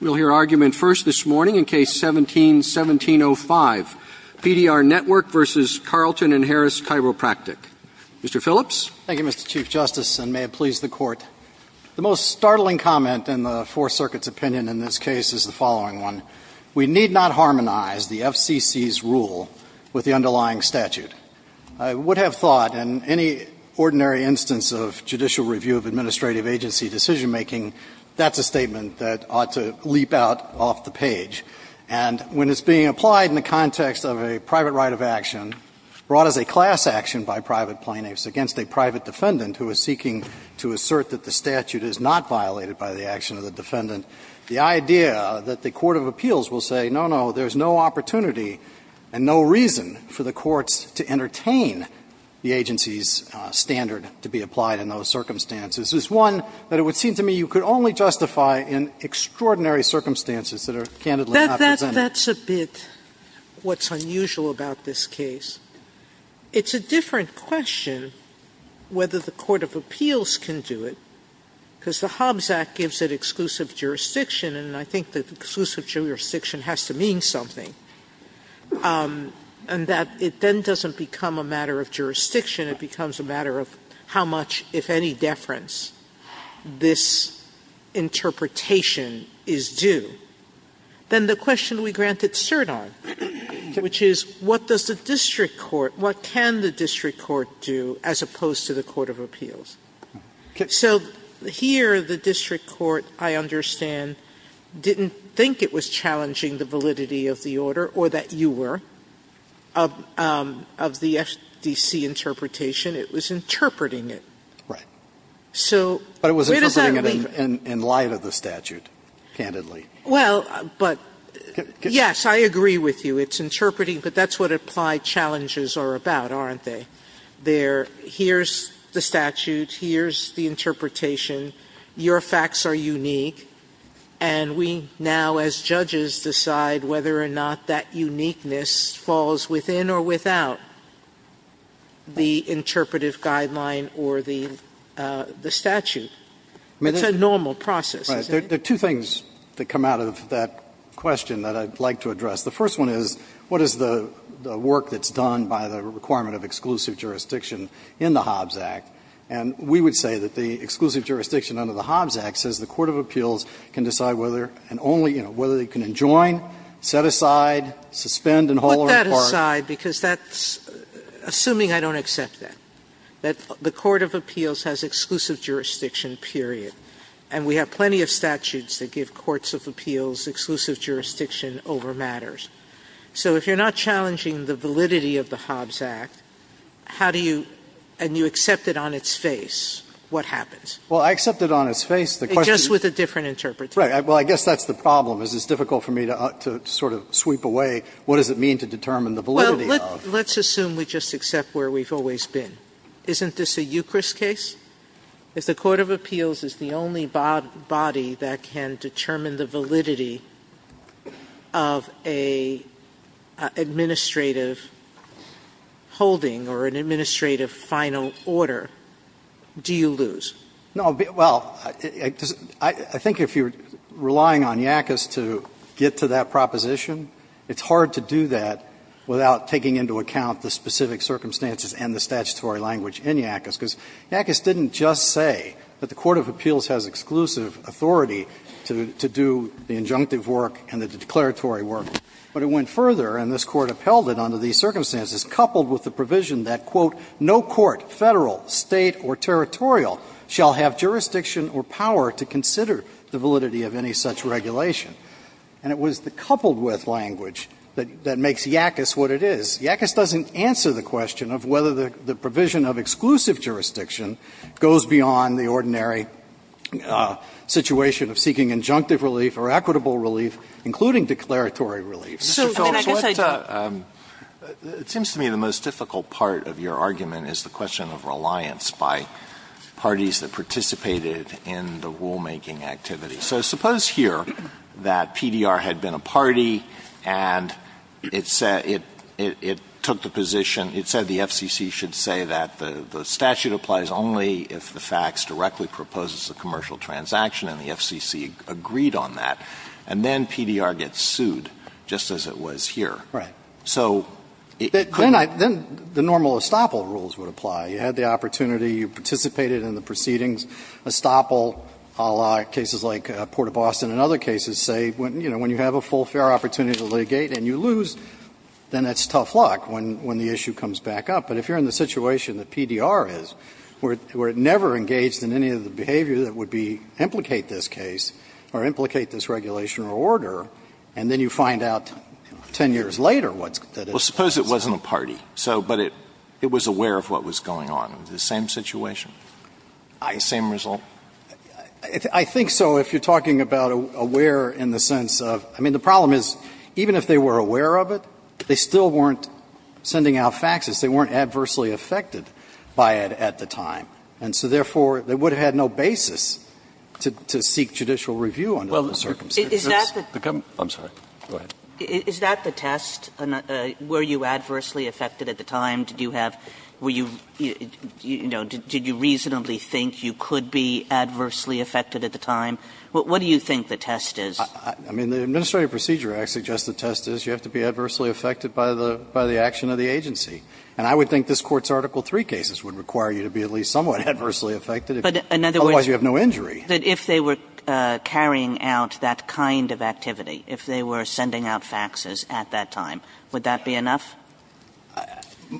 We'll hear argument first this morning in Case 17-1705, PDR Network v. Carlton & Harris Chiropractic. Mr. Phillips? Thank you, Mr. Chief Justice, and may it please the Court. The most startling comment in the Fourth Circuit's opinion in this case is the following one. We need not harmonize the FCC's rule with the underlying statute. I would have thought, in any ordinary instance of judicial review of administrative agency decision-making, that's a statement that ought to leap out off the page. And when it's being applied in the context of a private right of action brought as a class action by private plaintiffs against a private defendant who is seeking to assert that the statute is not violated by the action of the defendant, the idea that the court of appeals will say, no, no, there's no opportunity and no reason for the courts to entertain the agency's standard to be applied in those circumstances is one that it would seem to me you could only justify in extraordinary circumstances that are candidly not presented. That's a bit what's unusual about this case. It's a different question whether the court of appeals can do it, because the Hobbs Act gives it exclusive jurisdiction, and I think that exclusive jurisdiction has to mean something, and that it then doesn't become a matter of jurisdiction. It becomes a matter of how much, if any, deference this interpretation is due. Then the question we granted cert on, which is what does the district court, what can the district court do as opposed to the court of appeals? So here, the district court, I understand, didn't think it was challenging the validity of the order, or that you were, of the FDC interpretation. It was interpreting it. So where does that leave? But it was interpreting it in light of the statute, candidly. Well, but, yes, I agree with you. It's interpreting, but that's what applied challenges are about, aren't they? They're here's the statute, here's the interpretation, your facts are unique, and we now as judges decide whether or not that uniqueness falls within or without the interpretive guideline or the statute. It's a normal process, isn't it? Right. There are two things that come out of that question that I'd like to address. The first one is, what is the work that's done by the requirement of exclusive jurisdiction in the Hobbs Act, and we would say that the exclusive jurisdiction under the Hobbs Act says the court of appeals can decide whether and only, you know, whether they can adjoin, set aside, suspend, and hold apart. Put that aside, because that's, assuming I don't accept that, that the court of appeals has exclusive jurisdiction, period, and we have plenty of statutes that give courts of appeals exclusive jurisdiction over matters. So if you're not challenging the validity of the Hobbs Act, how do you, and you accept it on its face, what happens? Well, I accept it on its face, the question is. Just with a different interpretation. Right. Well, I guess that's the problem, is it's difficult for me to sort of sweep away what does it mean to determine the validity of. Well, let's assume we just accept where we've always been. Isn't this a Eucharist case? If the court of appeals is the only body that can determine the validity of an administrative holding or an administrative final order, do you lose? No. Well, I think if you're relying on Yackas to get to that proposition, it's hard to do that without taking into account the specific circumstances and the statutory language in Yackas, because Yackas didn't just say that the court of appeals has exclusive authority to do the injunctive work and the declaratory work. But it went further, and this Court upheld it under these circumstances, coupled with the provision that, quote, no court, Federal, State, or territorial shall have jurisdiction or power to consider the validity of any such regulation. And it was the coupled-with language that makes Yackas what it is. Yackas doesn't answer the question of whether the provision of exclusive jurisdiction goes beyond the ordinary situation of seeking injunctive relief or equitable relief, including declaratory relief. Sotomayor, I mean, I guess I do. Alito, it seems to me the most difficult part of your argument is the question of reliance by parties that participated in the rulemaking activity. So suppose here that PDR had been a party, and it took the position, it said the FCC should say that the statute applies only if the facts directly proposes a commercial transaction, and the FCC agreed on that. And then PDR gets sued, just as it was here. Right. So it couldn't be. Then the normal estoppel rules would apply. You had the opportunity. You participated in the proceedings. Estoppel, a la cases like Port of Boston and other cases, say, you know, when you have a full fair opportunity to litigate and you lose, then it's tough luck when the issue comes back up. But if you're in the situation that PDR is, where it never engaged in any of the behavior that would implicate this case or implicate this regulation or order, and then you find out 10 years later what that is. Well, suppose it wasn't a party, but it was aware of what was going on. Is it the same situation? The same result? I think so, if you're talking about aware in the sense of the problem is even if they were aware of it, they still weren't sending out faxes. They weren't adversely affected by it at the time. And so, therefore, they would have had no basis to seek judicial review under those circumstances. I'm sorry. Go ahead. Is that the test? Were you adversely affected at the time? Did you have, were you, you know, did you reasonably think you could be adversely affected at the time? What do you think the test is? I mean, the Administrative Procedure Act suggests the test is you have to be adversely affected by the action of the agency. And I would think this Court's Article 3 cases would require you to be at least somewhat adversely affected, otherwise you have no injury. But if they were carrying out that kind of activity, if they were sending out faxes at that time, would that be enough?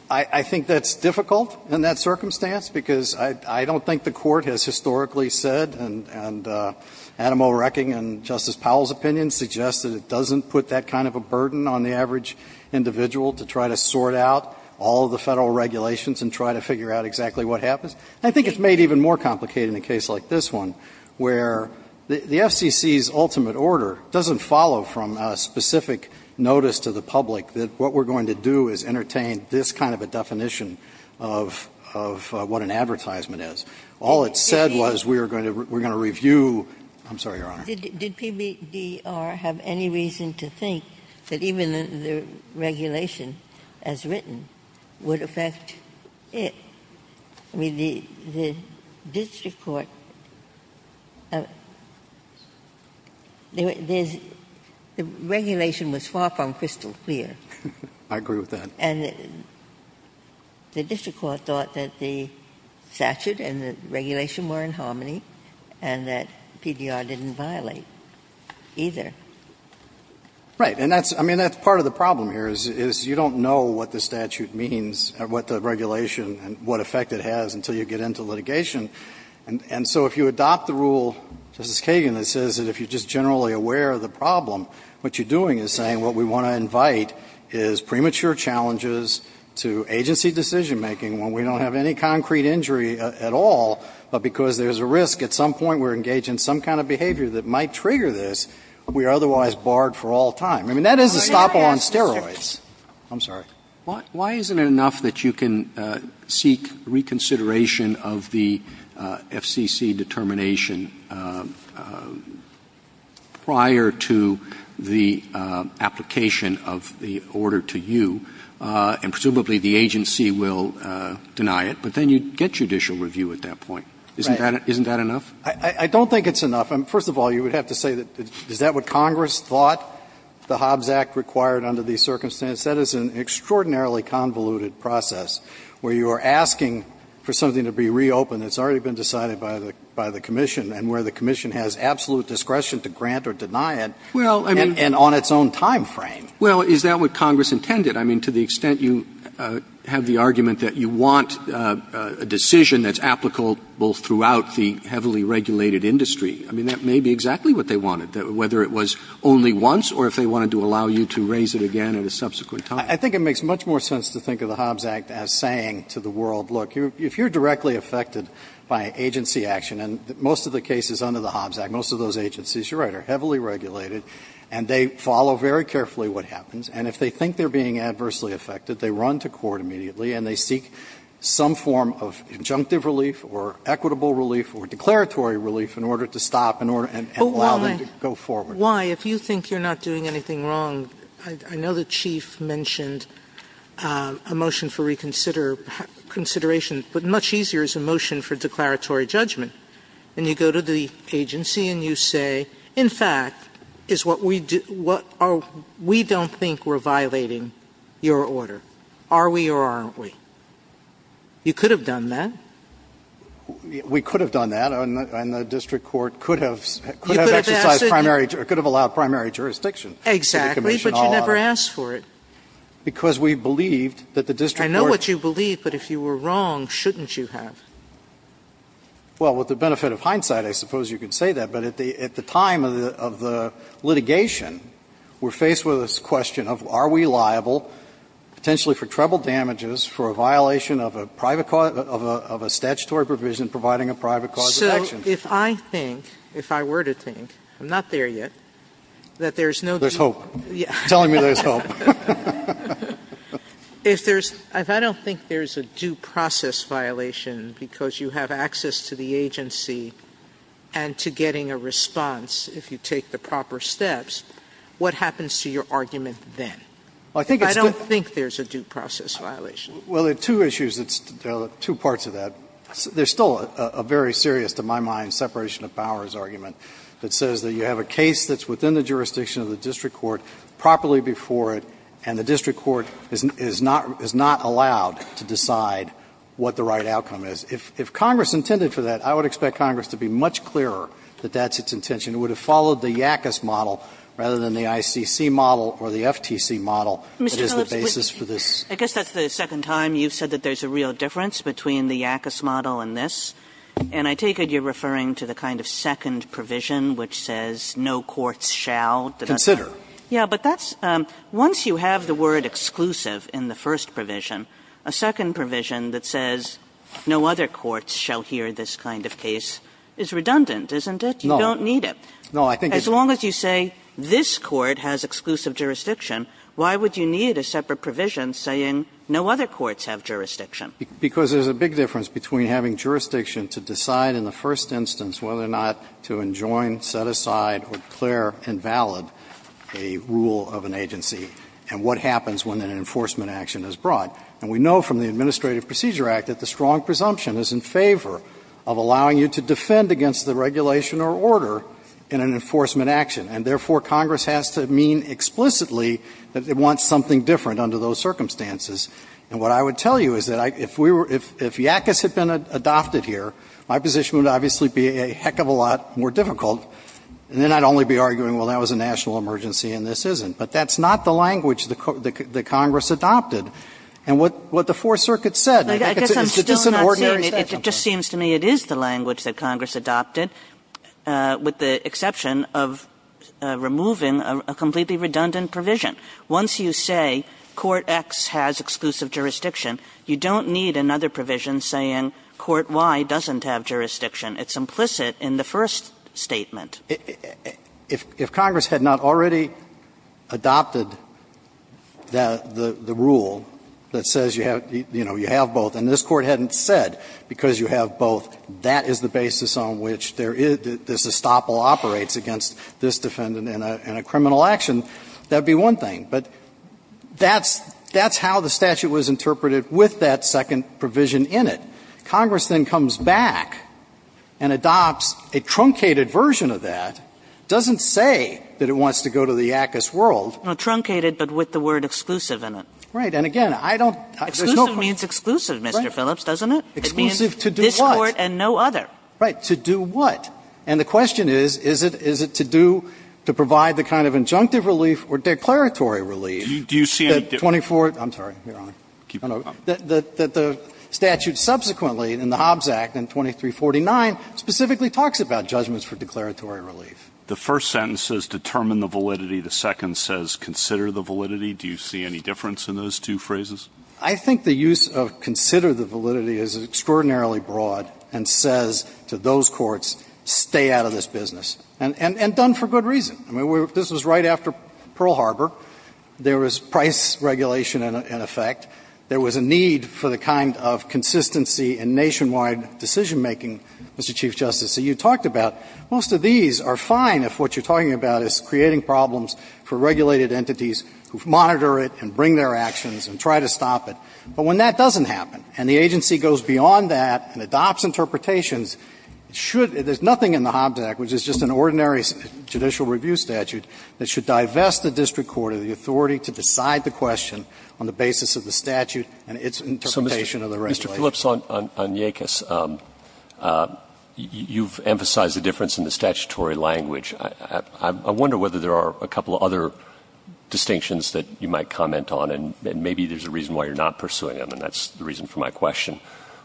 I think that's difficult in that circumstance, because I don't think the Court has historically said, and Adam O'Recking and Justice Powell's opinion suggests that it doesn't put that kind of a burden on the average individual to try to sort out all of the Federal regulations and try to figure out exactly what happens. And I think it's made even more complicated in a case like this one, where the FCC's ultimate order doesn't follow from a specific notice to the public that what we're going to do is entertain this kind of a definition of what an advertisement is. All it said was we're going to review. I'm sorry, Your Honor. Did PBDR have any reason to think that even the regulation as written would affect it? I mean, the district court, the regulation was far from crystal clear. I agree with that. And the district court thought that the statute and the regulation were in harmony and that PDR didn't violate either. Right. And that's, I mean, that's part of the problem here, is you don't know what the regulation and what effect it has until you get into litigation. And so if you adopt the rule, Justice Kagan, that says that if you're just generally aware of the problem, what you're doing is saying what we want to invite is premature challenges to agency decisionmaking when we don't have any concrete injury at all, but because there's a risk at some point we're engaged in some kind of behavior that might trigger this, we are otherwise barred for all time. I mean, that is a stop on steroids. I'm sorry. Why isn't it enough that you can seek reconsideration of the FCC determination prior to the application of the order to you, and presumably the agency will deny it, but then you get judicial review at that point? Right. Isn't that enough? I don't think it's enough. First of all, you would have to say, is that what Congress thought the Hobbs Act required under these circumstances? That is an extraordinarily convoluted process where you are asking for something to be reopened. It's already been decided by the commission, and where the commission has absolute discretion to grant or deny it, and on its own time frame. Well, is that what Congress intended? I mean, to the extent you have the argument that you want a decision that's applicable throughout the heavily regulated industry, I mean, that may be exactly what they would comment. I think it makes much more sense to think of the Hobbs Act as saying to the world, look, if you're directly affected by agency action, and most of the cases under the Hobbs Act, most of those agencies, you're right, are heavily regulated, and they follow very carefully what happens, and if they think they're being adversely affected, they run to court immediately, and they seek some form of injunctive relief or equitable relief or declaratory relief in order to stop and allow them to go forward. Sotomayor, why, if you think you're not doing anything wrong, I know the Chief mentioned a motion for reconsideration, but much easier is a motion for declaratory judgment, and you go to the agency and you say, in fact, is what we do what are we don't think we're violating your order. Are we or aren't we? You could have done that. We could have done that, and the district court could have exercised primary jurisdiction. Exactly. But you never asked for it. Because we believed that the district court. I know what you believed, but if you were wrong, shouldn't you have? Well, with the benefit of hindsight, I suppose you could say that. But at the time of the litigation, we're faced with this question of are we liable potentially for treble damages for a violation of a private cause of a statutory provision providing a private cause of action. If I think, if I were to think, I'm not there yet, that there's no. There's hope. Telling me there's hope. If there's, if I don't think there's a due process violation because you have access to the agency and to getting a response if you take the proper steps, what happens to your argument then? If I don't think there's a due process violation. Well, there are two issues, two parts of that. There's still a very serious, to my mind, separation of powers argument that says that you have a case that's within the jurisdiction of the district court, properly before it, and the district court is not allowed to decide what the right outcome is. If Congress intended for that, I would expect Congress to be much clearer that that's its intention. It would have followed the YACUS model rather than the ICC model or the FTC model that is the basis for this. I guess that's the second time you've said that there's a real difference between the YACUS model and this, and I take it you're referring to the kind of second provision which says no courts shall. Consider. Yeah. But that's, once you have the word exclusive in the first provision, a second provision that says no other courts shall hear this kind of case is redundant, isn't it? No. You don't need it. No, I think it's. As long as you say this court has exclusive jurisdiction, why would you need a separate provision saying no other courts have jurisdiction? Because there's a big difference between having jurisdiction to decide in the first instance whether or not to enjoin, set aside, or declare invalid a rule of an agency and what happens when an enforcement action is brought. And we know from the Administrative Procedure Act that the strong presumption is in favor of allowing you to defend against the regulation or order in an enforcement action. And therefore, Congress has to mean explicitly that it wants something different under those circumstances. And what I would tell you is that if we were, if YACUS had been adopted here, my position would obviously be a heck of a lot more difficult, and then I'd only be arguing, well, that was a national emergency and this isn't. But that's not the language that Congress adopted. And what the Fourth Circuit said, I think it's just an ordinary statute. I guess I'm still not seeing it. But it just seems to me it is the language that Congress adopted, with the exception of removing a completely redundant provision. Once you say Court X has exclusive jurisdiction, you don't need another provision saying Court Y doesn't have jurisdiction. It's implicit in the first statement. If Congress had not already adopted the rule that says you have, you know, you have what the defense said, because you have both, that is the basis on which there is, this estoppel operates against this defendant in a criminal action, that would be one thing. But that's how the statute was interpreted with that second provision in it. Congress then comes back and adopts a truncated version of that. It doesn't say that it wants to go to the YACUS world. Kagan. No, truncated, but with the word exclusive in it. Right. And again, I don't. There's no. It means exclusive, Mr. Phillips, doesn't it? Exclusive to do what? This Court and no other. Right. To do what? And the question is, is it to do to provide the kind of injunctive relief or declaratory relief that 24 – I'm sorry, Your Honor, that the statute subsequently in the Hobbs Act and 2349 specifically talks about judgments for declaratory relief? The first sentence says determine the validity. The second says consider the validity. Do you see any difference in those two phrases? I think the use of consider the validity is extraordinarily broad and says to those courts, stay out of this business, and done for good reason. I mean, this was right after Pearl Harbor. There was price regulation in effect. There was a need for the kind of consistency and nationwide decisionmaking, Mr. Chief Justice. So you talked about most of these are fine if what you're talking about is creating problems for regulated entities who monitor it and bring their actions and try to stop it. But when that doesn't happen and the agency goes beyond that and adopts interpretations, it should – there's nothing in the Hobbs Act, which is just an ordinary judicial review statute, that should divest the district court of the authority to decide the question on the basis of the statute and its interpretation of the regulation. Mr. Phillips, on Yakis, you've emphasized the difference in the statutory language. I wonder whether there are a couple of other distinctions that you might comment on, and maybe there's a reason why you're not pursuing them, and that's the reason for my question.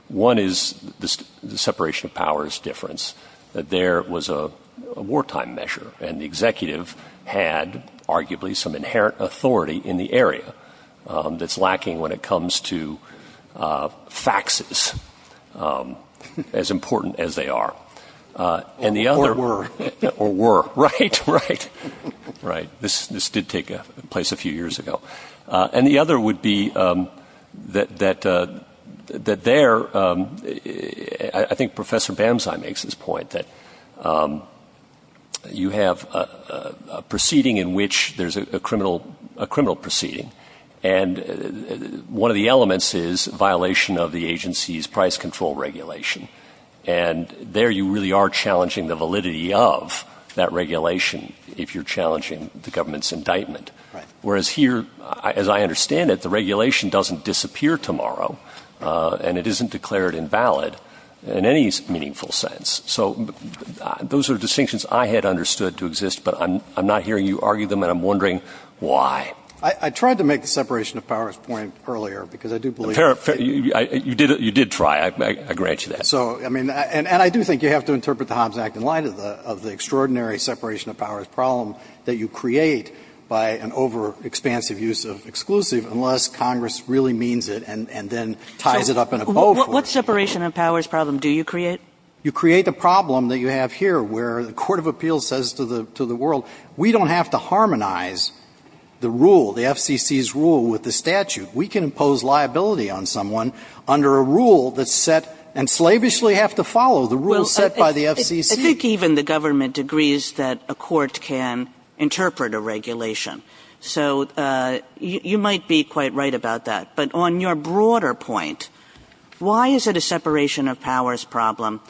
One is the separation of powers difference, that there was a wartime measure and the executive had arguably some inherent authority in the area that's lacking when it comes to faxes, as important as they are. Or were. Or were, right, right, right. This did take place a few years ago. And the other would be that there – I think Professor Bamzai makes this point, that you have a proceeding in which there's a criminal proceeding, and one of the elements is violation of the agency's price control regulation. And there you really are challenging the validity of that regulation if you're challenging the government's indictment. Whereas here, as I understand it, the regulation doesn't disappear tomorrow, and it isn't declared invalid in any meaningful sense. So those are distinctions I had understood to exist, but I'm not hearing you argue them and I'm wondering why. I tried to make the separation of powers point earlier, because I do believe – You did try, I grant you that. So, I mean, and I do think you have to interpret the Hobbs Act in light of the extraordinary separation of powers problem that you create by an overexpansive use of exclusive unless Congress really means it and then ties it up in a bow for it. What separation of powers problem do you create? You create the problem that you have here, where the court of appeals says to the world, we don't have to harmonize the rule, the FCC's rule with the statute. We can impose liability on someone under a rule that's set and slavishly have to follow the rule set by the FCC. I think even the government agrees that a court can interpret a regulation. So you might be quite right about that. But on your broader point, why is it a separation of powers problem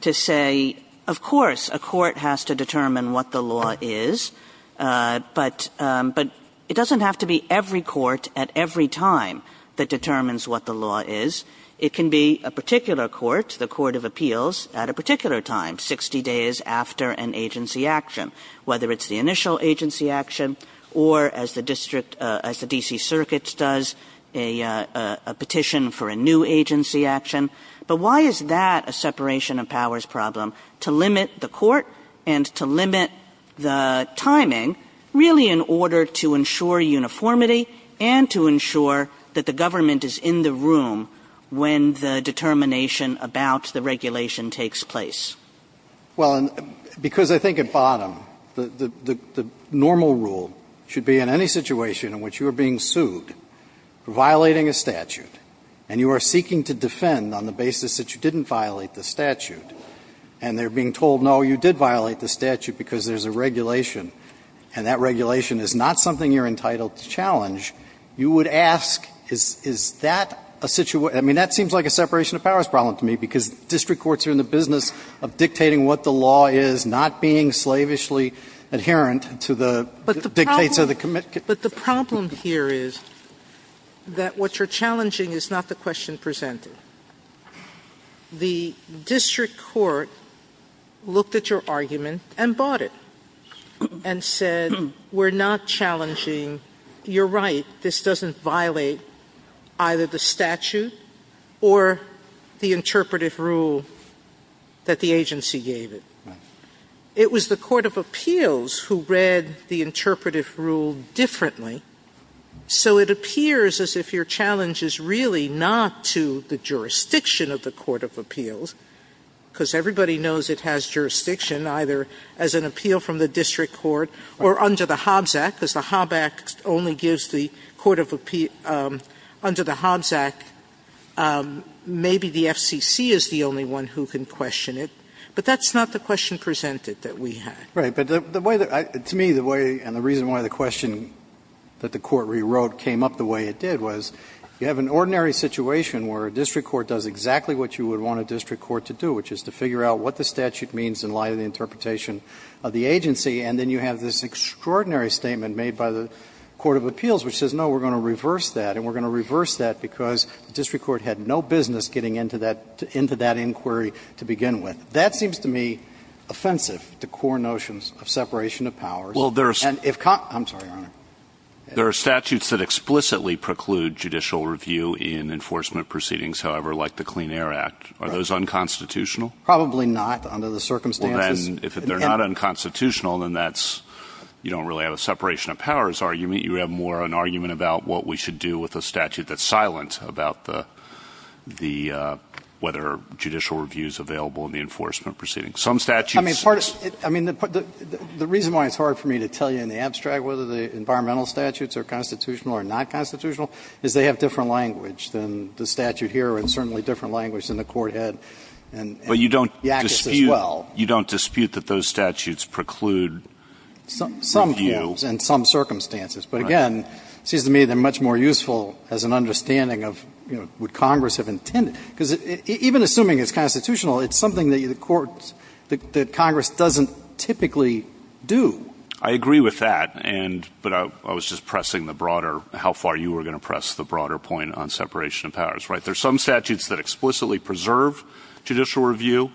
to say, of course, a court has to determine what the law is, but it doesn't have to be every court at every time that determines what the law is. It can be a particular court, the court of appeals, at a particular time, 60 days after an agency action, whether it's the initial agency action or as the district – as the D.C. Circuit does, a petition for a new agency action. But why is that a separation of powers problem, to limit the court and to limit the timing, really in order to ensure uniformity and to ensure that the government is in the room when the determination about the regulation takes place? Well, because I think at bottom, the normal rule should be in any situation in which you are being sued for violating a statute, and you are seeking to defend on the basis that you didn't violate the statute, and they're being told, no, you did violate the statute because there's a regulation, and that regulation is not something you're entitled to challenge, you would ask, is that a situation – I mean, that seems like a separation of powers problem to me, because district courts are in the business of dictating what the law is, not being slavishly adherent to the dictates of the commit – But the problem here is that what you're challenging is not the question presented. The district court looked at your argument and bought it, and said, we're not challenging – you're right, this doesn't violate either the statute or the interpretive rule that the agency gave it. It was the Court of Appeals who read the interpretive rule differently, so it appears as if your challenge is really not to the jurisdiction of the Court of Appeals, because everybody knows it has jurisdiction either as an appeal from the district court or under the Hobbs Act, because the Hobbs Act only gives the Court of Appeals – under the Hobbs Act, maybe the FCC is the only one who can question it, but that's not the question presented that we had. Right. But the way that – to me, the way and the reason why the question that the Court rewrote came up the way it did was, you have an ordinary situation where a district court does exactly what you would want a district court to do, which is to figure out what the statute means in light of the interpretation of the agency, and then you have this extraordinary statement made by the Court of Appeals which says, no, we're going to reverse that, and we're going to reverse that because the district court had no business getting into that – into that inquiry to begin with. That seems to me offensive to core notions of separation of powers. Well, there's – And if – I'm sorry, Your Honor. There are statutes that explicitly preclude judicial review in enforcement proceedings, however, like the Clean Air Act. Are those unconstitutional? Probably not, under the circumstances. Well, then, if they're not unconstitutional, then that's – you don't really have a separation of powers argument. You have more an argument about what we should do with a statute that's silent about the – the – whether judicial review is available in the enforcement proceedings. Some statutes – I mean, part of – I mean, the reason why it's hard for me to tell you in the abstract whether the environmental statutes are constitutional or not constitutional is they have different language than the statute here and certainly different language than the Court had in Yakis as well. But you don't dispute – you don't dispute that those statutes preclude review in some circumstances. But again, it seems to me they're much more useful as an understanding of, you know, would Congress have intended – because even assuming it's constitutional, it's something that the courts – that Congress doesn't typically do. I agree with that, and – but I was just pressing the broader – how far you were going to press the broader point on separation of powers, right? There's some statutes that explicitly preserve judicial review,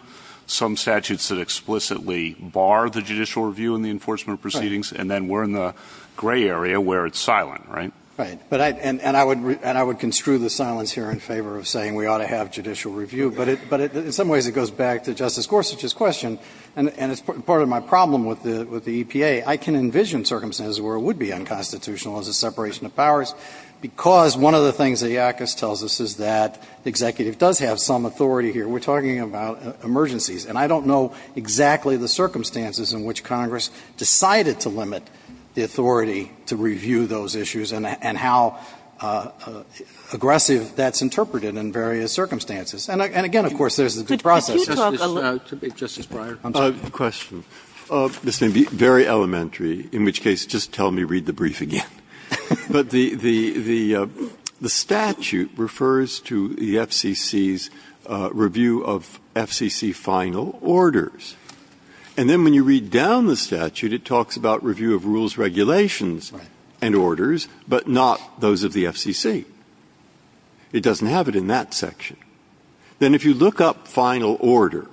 some statutes that explicitly bar the judicial review in the enforcement proceedings, and then we're in the gray area where it's silent, right? Right. But I – and I would construe the silence here in favor of saying we ought to have judicial review. But in some ways it goes back to Justice Gorsuch's question, and it's part of my problem with the EPA. I can envision circumstances where it would be unconstitutional as a separation of powers because one of the things that Yakis tells us is that the executive does have some authority here. We're talking about emergencies, and I don't know exactly the circumstances in which Congress decided to limit the authority to review those issues and how aggressive that's interpreted in various circumstances. And again, of course, there's the process. Sotomayor, Justice Breyer, I'm sorry. Breyer, I have a question. This may be very elementary, in which case just tell me, read the brief again. But the statute refers to the FCC's review of FCC final orders. And then when you read down the statute, it talks about review of rules, regulations and orders, but not those of the FCC. It doesn't have it in that section. Then if you look up final order,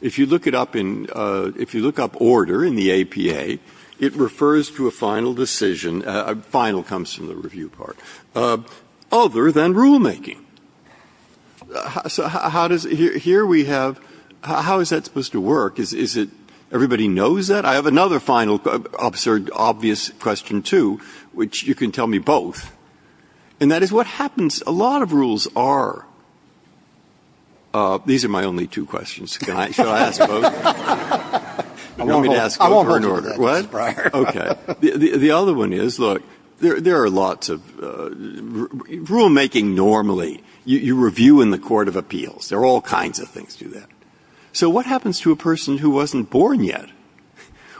if you look it up in – if you look up order in the APA, it refers to a final decision – final comes from the review part – other than rulemaking. So how does – here we have – how is that supposed to work? Is it – everybody knows that? I have another final, absurd, obvious question, too, which you can tell me both, and that is what happens – a lot of rules are – these are my only two questions. Can I – should I ask both? You want me to ask both or in order? I won't hurt you with that, Justice Breyer. Okay. The other one is, look, there are lots of – rulemaking normally, you review in the court of appeals. There are all kinds of things to that. So what happens to a person who wasn't born yet?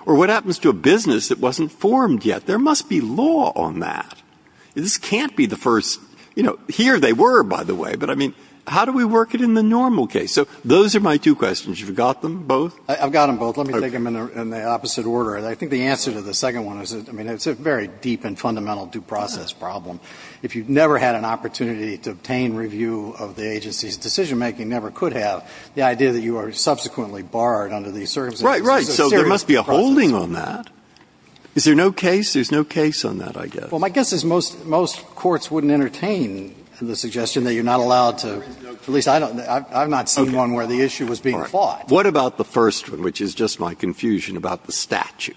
Or what happens to a business that wasn't formed yet? There must be law on that. This can't be the first – you know, here they were, by the way, but I mean, how do we work it in the normal case? So those are my two questions. You've got them both? I've got them both. Let me take them in the opposite order. I think the answer to the second one is, I mean, it's a very deep and fundamental due process problem. If you've never had an opportunity to obtain review of the agency's decision-making, never could have, the idea that you are subsequently barred under these circumstances is a serious process problem. Right, right. So there must be a holding on that. Is there no case? There's no case on that, I guess. Well, my guess is most courts wouldn't entertain the suggestion that you're not allowed to – at least I don't – I've not seen one where the issue was being fought. What about the first one, which is just my confusion about the statute?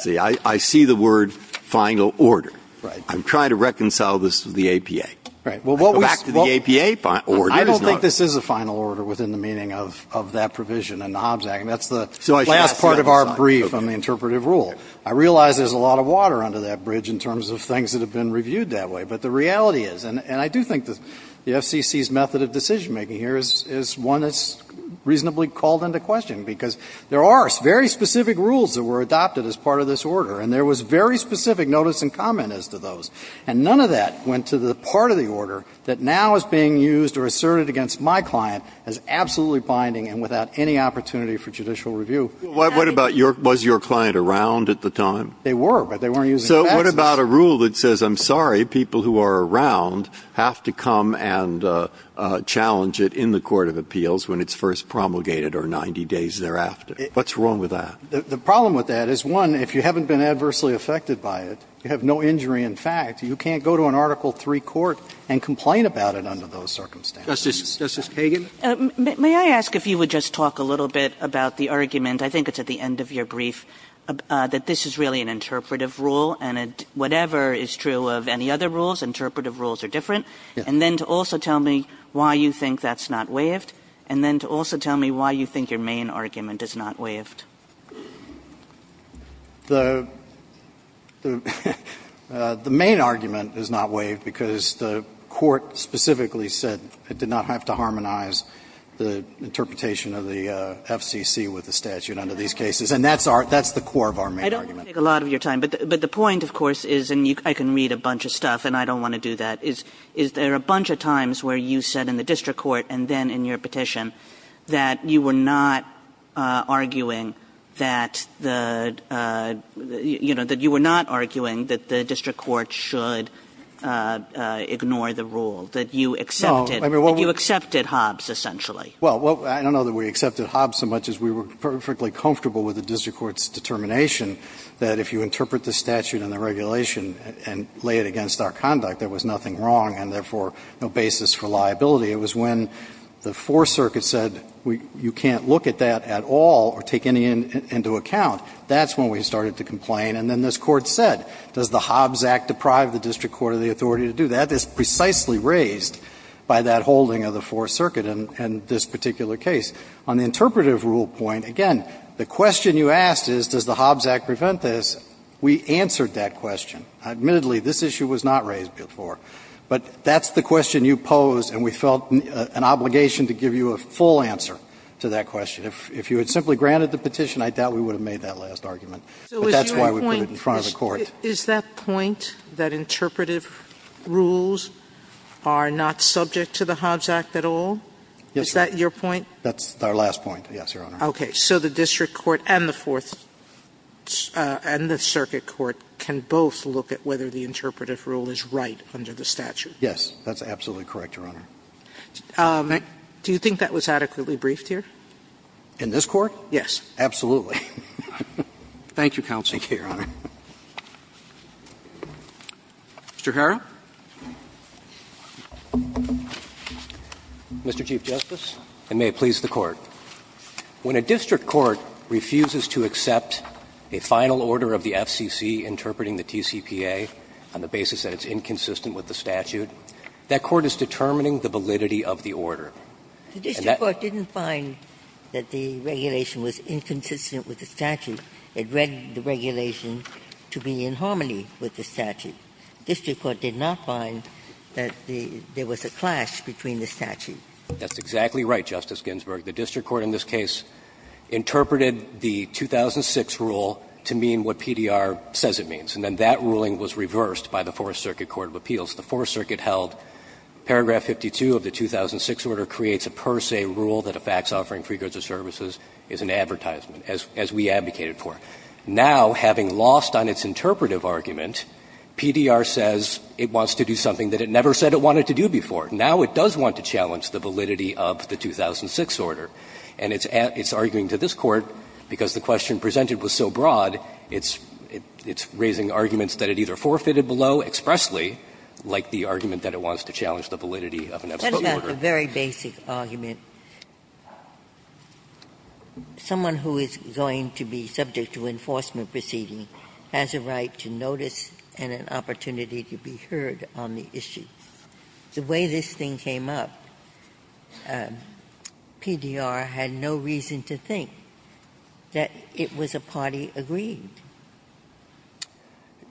See, I see the word final order. Right. I'm trying to reconcile this with the APA. Right. Well, what we – Go back to the APA order. I don't think this is a final order within the meaning of that provision in the Hobbs Act, and that's the last part of our brief on the interpretive rule. I realize there's a lot of water under that bridge in terms of things that have been reviewed that way, but the reality is – and I do think the FCC's method of decision-making here is one that's reasonably called into question, because there are very specific rules that were adopted as part of this order, and there was very specific notice and comment as to those. And none of that went to the part of the order that now is being used or asserted against my client as absolutely binding and without any opportunity for judicial review. What about your – was your client around at the time? They were, but they weren't using passes. So what about a rule that says, I'm sorry, people who are around have to come and the court of appeals when it's first promulgated or 90 days thereafter? What's wrong with that? The problem with that is, one, if you haven't been adversely affected by it, you have no injury in fact, you can't go to an Article III court and complain about it under those circumstances. Justice Kagan? May I ask if you would just talk a little bit about the argument – I think it's at the end of your brief – that this is really an interpretive rule, and whatever is true of any other rules, interpretive rules are different, and then to also tell me why you think that's not waived, and then to also tell me why you think your main argument is not waived. The – the main argument is not waived because the court specifically said it did not have to harmonize the interpretation of the FCC with the statute under these cases, and that's our – that's the core of our main argument. I don't want to take a lot of your time, but the point, of course, is – and I can read a bunch of stuff and I don't want to do that – is there are a bunch of times where you said in the district court, and then in your petition, that you were not arguing that the – you know, that you were not arguing that the district court should ignore the rule, that you accepted – that you accepted Hobbs, essentially. Well, I don't know that we accepted Hobbs so much as we were perfectly comfortable with the district court's determination that if you interpret the statute and the regulation and lay it against our conduct, there was nothing wrong, and therefore no basis for liability. It was when the Fourth Circuit said you can't look at that at all or take any into account, that's when we started to complain. And then this Court said, does the Hobbs Act deprive the district court of the authority to do that? It's precisely raised by that holding of the Fourth Circuit in this particular case. On the interpretive rule point, again, the question you asked is, does the Hobbs Act prevent this? We answered that question. Admittedly, this issue was not raised before. But that's the question you posed, and we felt an obligation to give you a full answer to that question. If you had simply granted the petition, I doubt we would have made that last argument. But that's why we put it in front of the Court. So is your point – is that point that interpretive rules are not subject to the Hobbs Act at all? Yes, Your Honor. Is that your point? That's our last point, yes, Your Honor. Okay. So the district court and the Fourth – and the circuit court can both look at whether the interpretive rule is right under the statute? Yes. That's absolutely correct, Your Honor. Do you think that was adequately briefed here? In this Court? Yes. Absolutely. Thank you, counsel. Thank you, Your Honor. Mr. Harrell. Mr. Chief Justice, and may it please the Court. When a district court refuses to accept a final order of the FCC interpreting the TCPA on the basis that it's inconsistent with the statute, that court is determining the validity of the order. The district court didn't find that the regulation was inconsistent with the statute. It read the regulation to be in harmony with the statute. The district court did not find that there was a clash between the statute. That's exactly right, Justice Ginsburg. The district court in this case interpreted the 2006 rule to mean what PDR says it means. And then that ruling was reversed by the Fourth Circuit Court of Appeals. The Fourth Circuit held paragraph 52 of the 2006 order creates a per se rule that a fax offering free goods or services is an advertisement, as we advocated for. Now, having lost on its interpretive argument, PDR says it wants to do something that it never said it wanted to do before. Now it does want to challenge the validity of the 2006 order. And it's arguing to this Court, because the question presented was so broad, it's raising arguments that it either forfeited below expressly, like the argument that it wants to challenge the validity of an absolute order. Ginsburg. That's a very basic argument. Someone who is going to be subject to enforcement proceeding has a right to notice and an opportunity to be heard on the issue. The way this thing came up, PDR had no reason to think that it was a party agreed.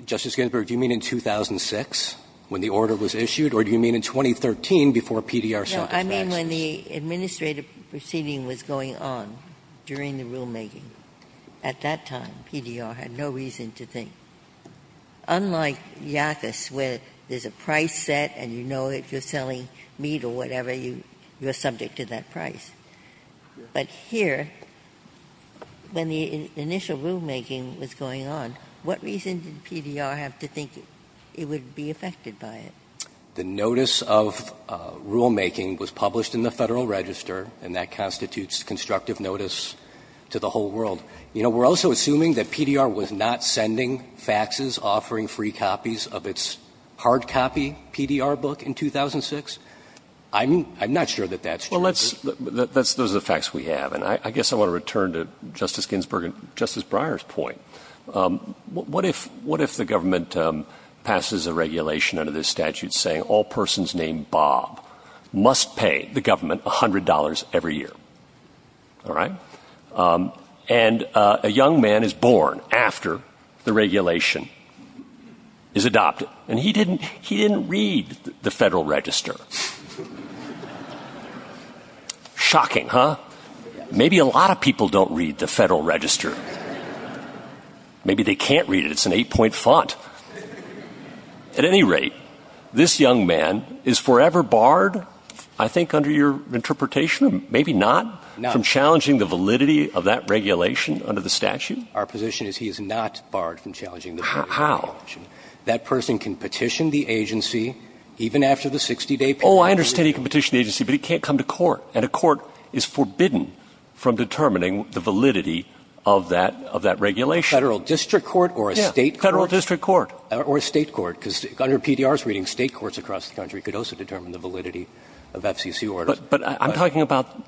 Justice Ginsburg, do you mean in 2006 when the order was issued, or do you mean in 2013 before PDR signed the statute? No. I mean when the administrative proceeding was going on during the rulemaking. At that time, PDR had no reason to think. Unlike Yakis, where there's a price set and you know that you're selling meat or whatever, you're subject to that price. But here, when the initial rulemaking was going on, what reason did PDR have to think it would be affected by it? The notice of rulemaking was published in the Federal Register, and that constitutes constructive notice to the whole world. You know, we're also assuming that PDR was not sending faxes offering free copies of its hard copy PDR book in 2006. I'm not sure that that's true. Well, those are the facts we have, and I guess I want to return to Justice Ginsburg and Justice Breyer's point. What if the government passes a regulation under this statute saying all persons named Bob must pay the government $100 every year? All right? And a young man is born after the regulation is adopted, and he didn't read the Federal Register. Shocking, huh? Maybe a lot of people don't read the Federal Register. Maybe they can't read it. It's an eight-point font. At any rate, this young man is forever barred, I think, under your interpretation of maybe not from challenging the validity of that regulation under the statute? Our position is he is not barred from challenging the validity of the regulation. How? That person can petition the agency even after the 60-day period. Oh, I understand he can petition the agency, but he can't come to court. And a court is forbidden from determining the validity of that regulation. A Federal district court or a State court? Federal district court. Or a State court, because under PDR's reading, State courts across the country could also determine the validity of FCC orders. But I'm talking about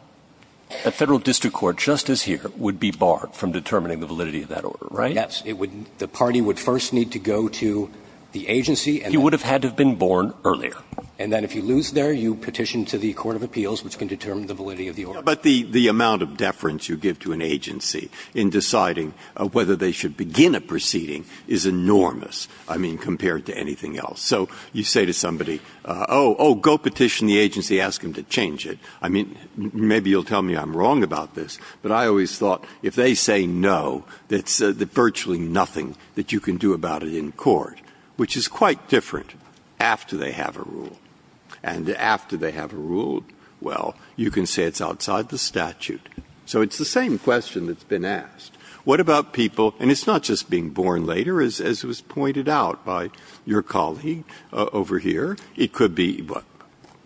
a Federal district court, just as here, would be barred from determining the validity of that order, right? Yes. It would – the party would first need to go to the agency, and then – He would have had to have been born earlier. And then if you lose there, you petition to the court of appeals, which can determine the validity of the order. But the amount of deference you give to an agency in deciding whether they should begin a proceeding is enormous, I mean, compared to anything else. So you say to somebody, oh, go petition the agency, ask them to change it. I mean, maybe you'll tell me I'm wrong about this, but I always thought if they say no, that's virtually nothing that you can do about it in court, which is quite different after they have a rule. And after they have a rule, well, you can say it's outside the statute. So it's the same question that's been asked. What about people – and it's not just being born later, as was pointed out by your colleague over here. It could be, well,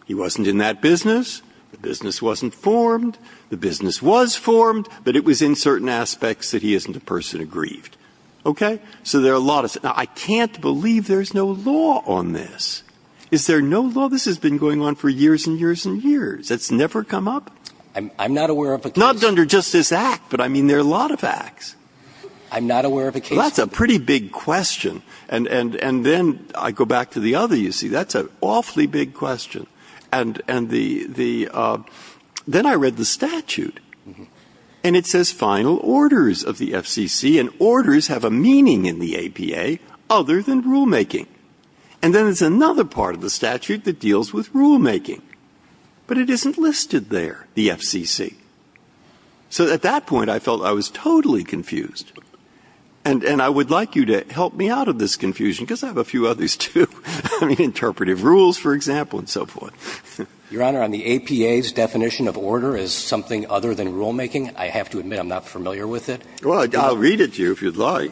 he wasn't in that business, the business wasn't formed, the business was formed, but it was in certain aspects that he isn't a person aggrieved. Okay? So there are a lot of – now, I can't believe there's no law on this. Is there no law? This has been going on for years and years and years. It's never come up. I'm not aware of a case – Not under just this Act, but I mean, there are a lot of Acts. I'm not aware of a case – Well, that's a pretty big question. And then I go back to the other, you see. That's an awfully big question. And the – then I read the statute. And it says final orders of the FCC, and orders have a meaning in the APA other than rulemaking. And then there's another part of the statute that deals with rulemaking. But it isn't listed there, the FCC. So at that point, I felt I was totally confused. And I would like you to help me out of this confusion, because I have a few others, too. I mean, interpretive rules, for example, and so forth. Your Honor, on the APA's definition of order as something other than rulemaking, I have to admit I'm not familiar with it. Well, I'll read it to you if you'd like.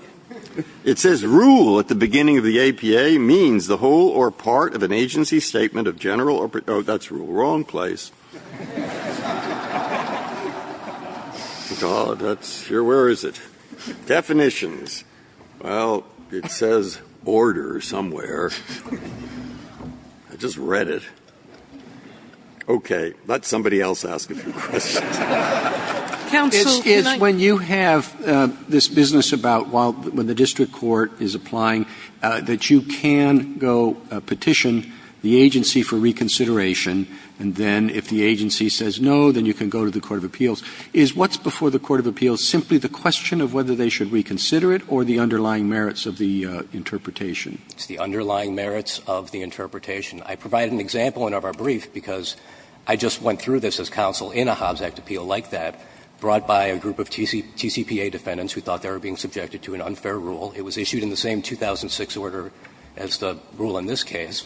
It says rule at the beginning of the APA means the whole or part of an agency statement of general – oh, that's wrong place. Oh, God. That's – where is it? Definitions. Well, it says order somewhere. I just read it. Okay. Let somebody else ask a few questions. It's when you have this business about while – when the district court is applying that you can go petition the agency for reconsideration, and then if the agency says no, then you can go to the court of appeals. Is what's before the court of appeals simply the question of whether they should reconsider it or the underlying merits of the interpretation? It's the underlying merits of the interpretation. I provided an example in our brief because I just went through this as counsel in a Hobbs Act appeal like that, brought by a group of TCPA defendants who thought they were being subjected to an unfair rule. It was issued in the same 2006 order as the rule in this case.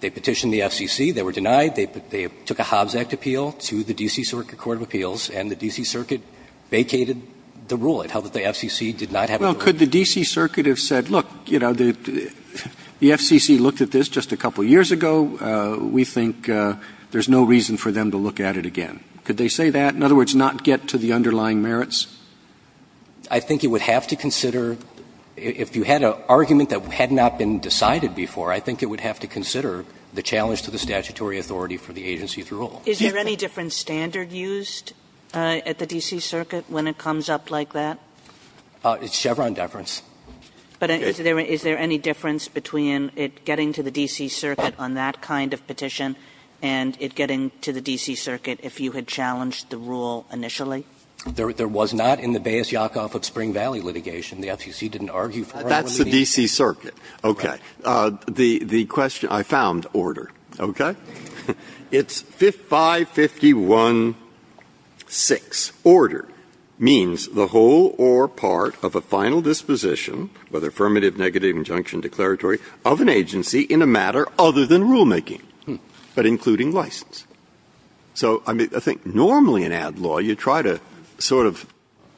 They petitioned the FCC. They were denied. They took a Hobbs Act appeal to the D.C. Circuit Court of Appeals, and the D.C. Circuit vacated the rule. It held that the FCC did not have a rule. Well, could the D.C. Circuit have said, look, you know, the FCC looked at this just a couple years ago. We think there's no reason for them to look at it again. Could they say that? In other words, not get to the underlying merits? I think it would have to consider – if you had an argument that had not been decided before, I think it would have to consider the challenge to the statutory authority for the agency's rule. Is there any different standard used at the D.C. Circuit when it comes up like that? It's Chevron deference. But is there any difference between it getting to the D.C. Circuit on that kind of petition and it getting to the D.C. Circuit if you had challenged the rule initially? There was not in the Baez-Yakovov-Spring Valley litigation. The FCC didn't argue for it. That's the D.C. Circuit. Okay. The question – I found order. Okay? It's 551-6. Order means the whole or part of a final disposition, whether affirmative, negative, injunction, declaratory, of an agency in a matter other than rulemaking, but including license. So I think normally in ad law, you try to sort of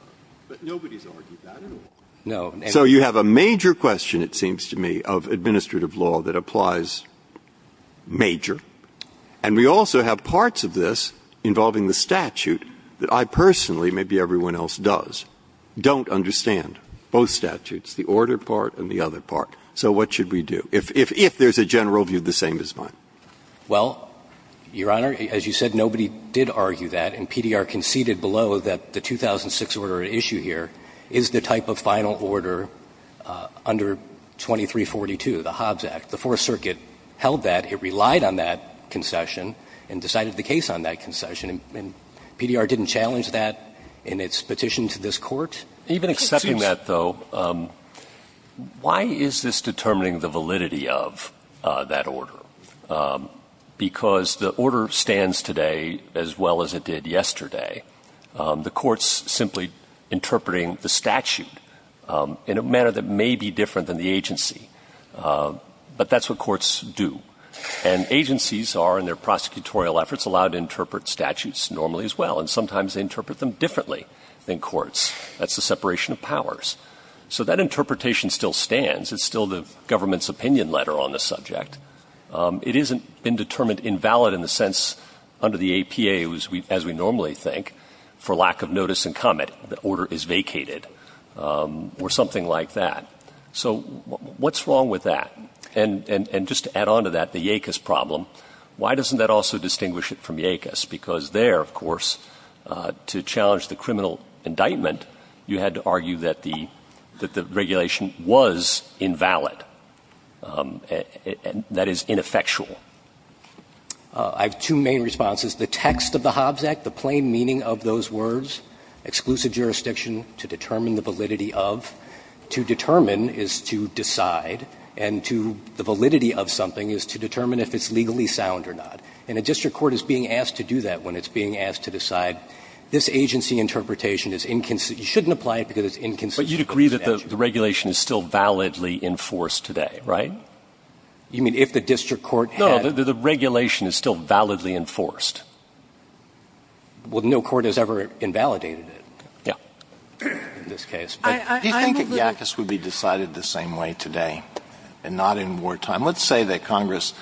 – but nobody's argued that in order. No. So you have a major question, it seems to me, of administrative law that applies major. And we also have parts of this involving the statute that I personally, maybe everyone else does, don't understand. Both statutes, the order part and the other part. So what should we do if there's a general view the same as mine? Well, Your Honor, as you said, nobody did argue that, and PDR conceded below that the 2006 order at issue here is the type of final order under 2342, the Hobbs Act, the Hobbs Act. It relied on that concession and decided the case on that concession, and PDR didn't challenge that in its petition to this Court. Even accepting that, though, why is this determining the validity of that order? Because the order stands today as well as it did yesterday. The Court's simply interpreting the statute in a manner that may be different than the agency. But that's what courts do. And agencies are, in their prosecutorial efforts, allowed to interpret statutes normally as well. And sometimes they interpret them differently than courts. That's the separation of powers. So that interpretation still stands. It's still the government's opinion letter on the subject. It isn't indetermined invalid in the sense under the APA, as we normally think, for lack of notice and comment, the order is vacated or something like that. So what's wrong with that? And just to add on to that, the YACUS problem, why doesn't that also distinguish it from YACUS? Because there, of course, to challenge the criminal indictment, you had to argue that the regulation was invalid, and that is ineffectual. I have two main responses. The text of the Hobbs Act, the plain meaning of those words, exclusive jurisdiction to determine the validity of. To determine is to decide. And to the validity of something is to determine if it's legally sound or not. And a district court is being asked to do that when it's being asked to decide this agency interpretation is inconsistent. You shouldn't apply it because it's inconsistent. But you'd agree that the regulation is still validly enforced today, right? You mean if the district court had? No, the regulation is still validly enforced. Well, no court has ever invalidated it. Yeah. In this case. But do you think that YACUS would be decided the same way today and not in wartime? Let's say that Congress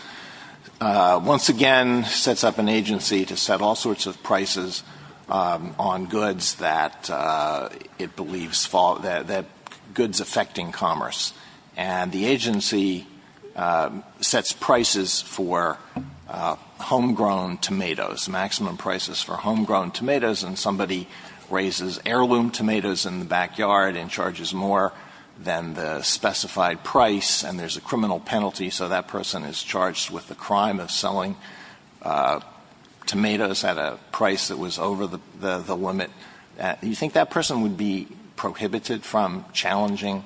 once again sets up an agency to set all sorts of prices on goods that it believes that goods affecting commerce. And the agency sets prices for homegrown tomatoes, maximum prices for homegrown tomatoes. And somebody raises heirloom tomatoes in the backyard and charges more than the specified price. And there's a criminal penalty. So that person is charged with the crime of selling tomatoes at a price that was over the limit. You think that person would be prohibited from challenging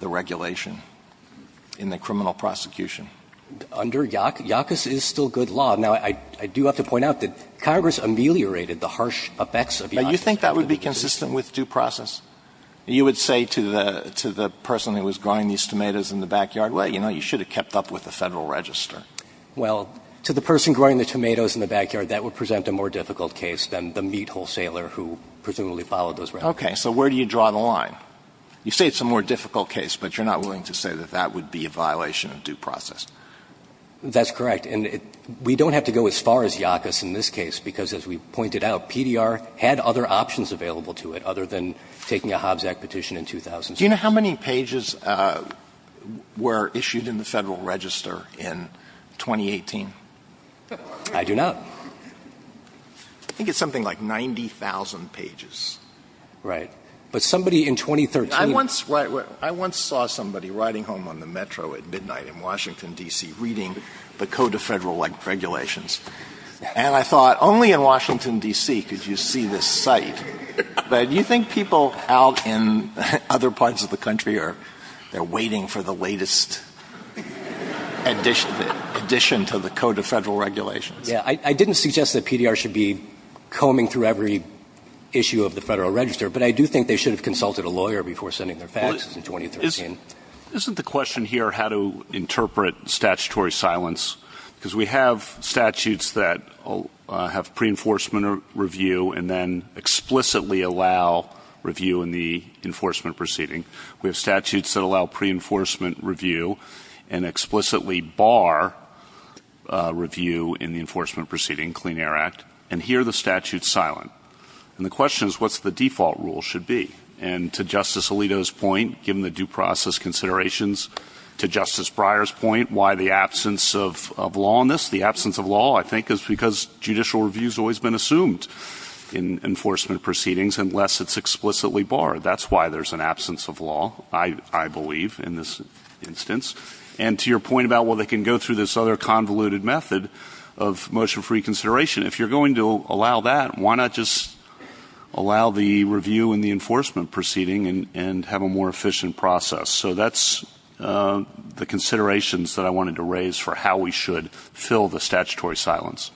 the regulation in the criminal prosecution? Under YACUS, YACUS is still good law. Now, I do have to point out that Congress ameliorated the harsh effects of YACUS. Now, you think that would be consistent with due process? You would say to the person who was growing these tomatoes in the backyard, well, you know, you should have kept up with the Federal Register. Well, to the person growing the tomatoes in the backyard, that would present a more difficult case than the meat wholesaler who presumably followed those regulations. Okay. So where do you draw the line? You say it's a more difficult case, but you're not willing to say that that would be a violation of due process. That's correct. And we don't have to go as far as YACUS in this case, because as we pointed out, PDR had other options available to it other than taking a Hobbs Act petition in 2006. Do you know how many pages were issued in the Federal Register in 2018? I do not. I think it's something like 90,000 pages. Right. But somebody in 2013. I once saw somebody riding home on the Metro at midnight in Washington, D.C., reading the Code of Federal Regulations. And I thought, only in Washington, D.C. could you see this site. But do you think people out in other parts of the country are waiting for the latest addition to the Code of Federal Regulations? Yeah. I didn't suggest that PDR should be combing through every issue of the Federal Register, but I do think they should have consulted a lawyer before sending their faxes in 2013. Isn't the question here how to interpret statutory silence? Because we have statutes that have pre-enforcement review and then explicitly allow review in the enforcement proceeding. We have statutes that allow pre-enforcement review and explicitly bar review in the enforcement proceeding, Clean Air Act. And here the statute's silent. And the question is, what's the default rule should be? And to Justice Alito's point, given the due process considerations, to Justice Breyer's point, why the absence of law on this? The absence of law, I think, is because judicial review's always been assumed in enforcement proceedings unless it's explicitly barred. That's why there's an absence of law, I believe, in this instance. And to your point about, well, they can go through this other convoluted method of motion-free consideration, if you're going to allow that, why not just allow the enforcement proceeding and have a more efficient process? So that's the considerations that I wanted to raise for how we should fill the statutory silence.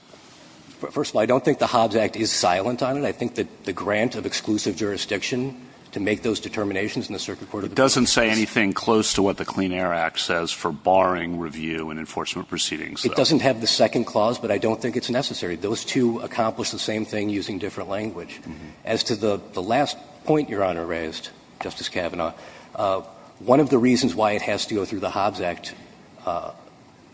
First of all, I don't think the Hobbs Act is silent on it. I think that the grant of exclusive jurisdiction to make those determinations in the Circuit Court of Appeals is. It doesn't say anything close to what the Clean Air Act says for barring review in enforcement proceedings, though. It doesn't have the second clause, but I don't think it's necessary. Those two accomplish the same thing using different language. As to the last point Your Honor raised, Justice Kavanaugh, one of the reasons why it has to go through the Hobbs Act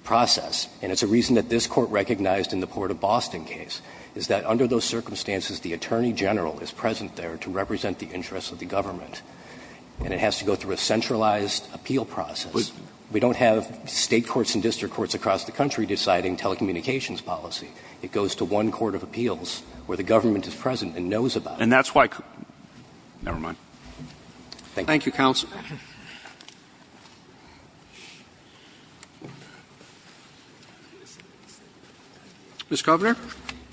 process, and it's a reason that this Court recognized in the Port of Boston case, is that under those circumstances, the attorney general is present there to represent the interests of the government, and it has to go through a centralized appeal process. We don't have State courts and district courts across the country deciding telecommunications policy. It goes to one court of appeals where the government is present and knows about it. And that's why co-never mind. Thank you. Thank you, counsel. Ms. Kovner.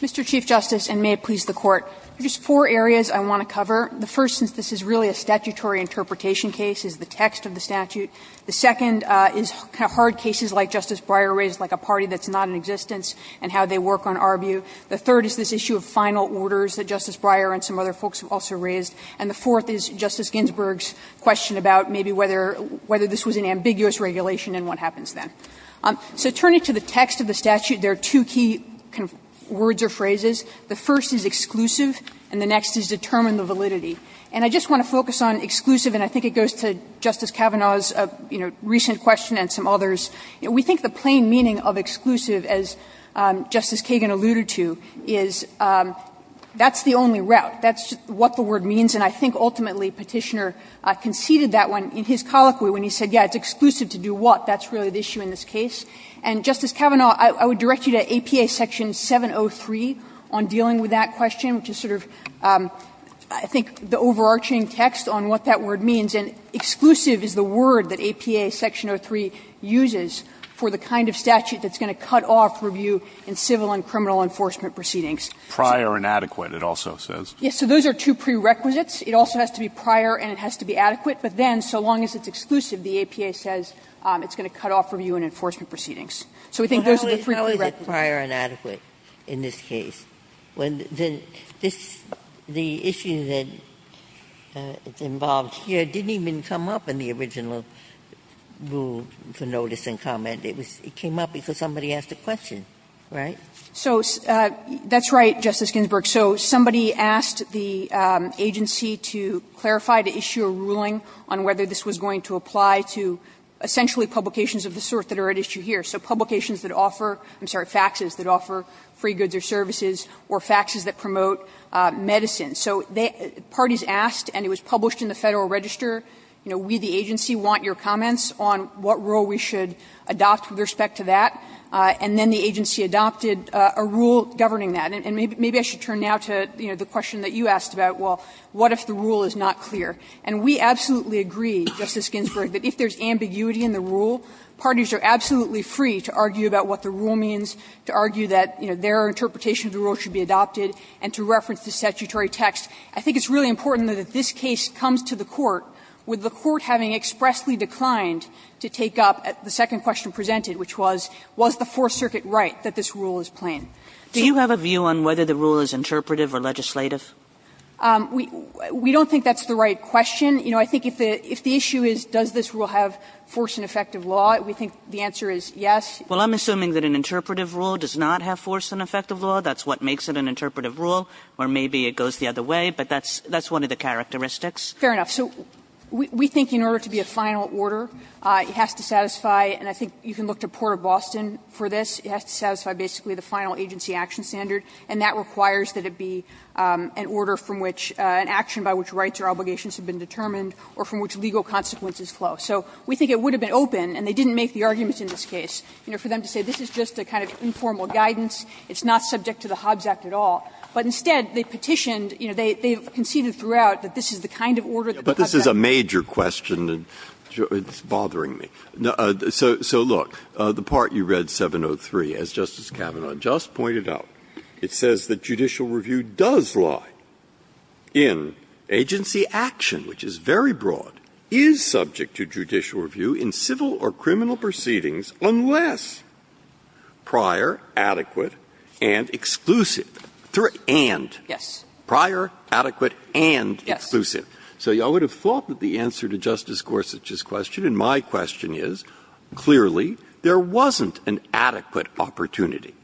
Mr. Chief Justice, and may it please the Court, there are just four areas I want to cover. The first, since this is really a statutory interpretation case, is the text of the statute. The second is hard cases like Justice Breyer raised, like a party that's not in existence and how they work on Arbu. The third is this issue of final orders that Justice Breyer and some other folks have also raised. And the fourth is Justice Ginsburg's question about maybe whether this was an ambiguous regulation and what happens then. So turning to the text of the statute, there are two key words or phrases. The first is exclusive, and the next is determine the validity. And I just want to focus on exclusive, and I think it goes to Justice Kavanaugh's recent question and some others. We think the plain meaning of exclusive, as Justice Kagan alluded to, is that's the only route. That's what the word means. And I think ultimately Petitioner conceded that one in his colloquy when he said, yes, it's exclusive to do what. That's really the issue in this case. And, Justice Kavanaugh, I would direct you to APA section 703 on dealing with that question, which is sort of, I think, the overarching text on what that word means. And exclusive is the word that APA section 03 uses for the kind of statute that's going to cut off review in civil and criminal enforcement proceedings. So those are two prerequisites. It also has to be prior and it has to be adequate, but then, so long as it's exclusive, the APA says it's going to cut off review in enforcement proceedings. Ginsburg. Sotomayor, I'm sorry, but why is it prior and adequate in this case when this, the issue that is involved here didn't even come up in the original rule for notice and comment. It came up because somebody asked a question, right? So, that's right, Justice Ginsburg. So somebody asked the agency to clarify the issue of ruling on whether this was going to apply to essentially publications of the sort that are at issue here. So publications that offer, I'm sorry, faxes that offer free goods or services, or faxes that promote medicine. So parties asked, and it was published in the Federal Register, you know, we, the agency, want your comments on what rule we should adopt with respect to that. And then the agency adopted a rule governing that. And maybe I should turn now to, you know, the question that you asked about, well, what if the rule is not clear? And we absolutely agree, Justice Ginsburg, that if there is ambiguity in the rule, parties are absolutely free to argue about what the rule means, to argue that, you know, their interpretation of the rule should be adopted, and to reference the statutory text. I think it's really important that if this case comes to the Court, with the Court having expressly declined to take up the second question presented, which was, was the Fourth Circuit right that this rule is plain? Kagan. Kagan. Kagan. Kagan. Kagan. Kagan. Kagan. Kagan. Kagan. Kagan. Kagan. Kagan. Kagan. Kagan. they didn't make the argument in this case, you know, for them to say this is just a kind of informal guidance, it's not subject to the Hobbs Act at all, but instead they petitioned, you know, they've conceded throughout the this is the kind of order that the Hobbs Act enshrines. Breyer. Breyer. But this is a major question, and it's bothering me. So, so look, the part you read 703 as Justice Kavanaugh just pointed out. It says that judicial review does lie. In agency action, which is very broad, is subject to judicial review in civil or criminal proceedings unless prior, adequate, and exclusive, through and, prior, adequate, and exclusive. So I would have thought that the answer to Justice Gorsuch's question, and my question is, clearly, there wasn't an adequate opportunity.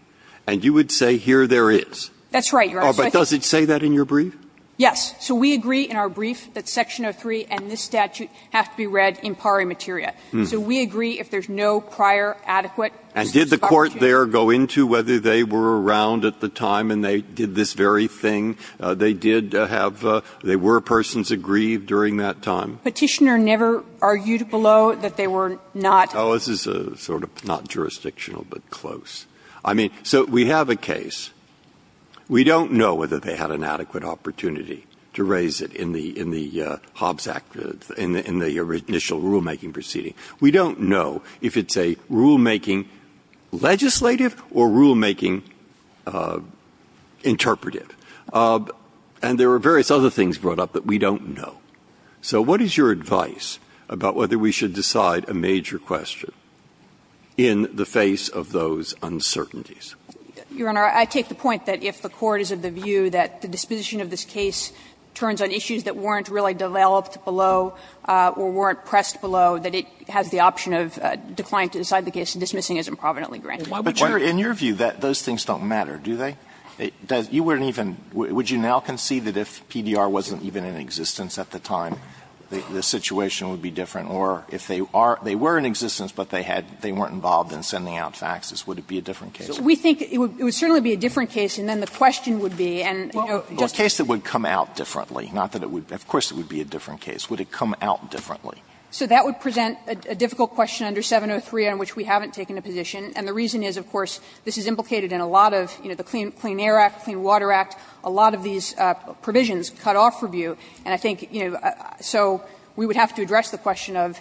And you would say here there is. That's right, Your Honor. But does it say that in your brief? Yes. So we agree in our brief that Section 03 and this statute have to be read in pari materia. So we agree if there's no prior, adequate, exclusive opportunity. And did the Court there go into whether they were around at the time and they did this very thing? They did have they were persons aggrieved during that time? Petitioner never argued below that they were not. Oh, this is sort of not jurisdictional, but close. I mean, so we have a case. We don't know whether they had an adequate opportunity to raise it in the in the Hobbs Act, in the initial rulemaking proceeding. We don't know if it's a rulemaking legislative or rulemaking interpretive. And there were various other things brought up that we don't know. So what is your advice about whether we should decide a major question in the face of those uncertainties? Your Honor, I take the point that if the Court is of the view that the disposition of this case turns on issues that weren't really developed below or weren't pressed below, that it has the option of decline to decide the case, and dismissing is improvidently granted. But, Your Honor, in your view, those things don't matter, do they? You wouldn't even – would you now concede that if PDR wasn't even in existence at the time, the situation would be different? Or if they are – they were in existence, but they had – they weren't involved in sending out faxes, would it be a different case? We think it would certainly be a different case, and then the question would be, and, you know, just to say. Alito, I guess it would come out differently, not that it would – of course it would be a different case. Would it come out differently? So that would present a difficult question under 703 on which we haven't taken a position, and the reason is, of course, this is implicated in a lot of, you know, the Clean Air Act, Clean Water Act, a lot of these provisions cut off review. And I think, you know, so we would have to address the question of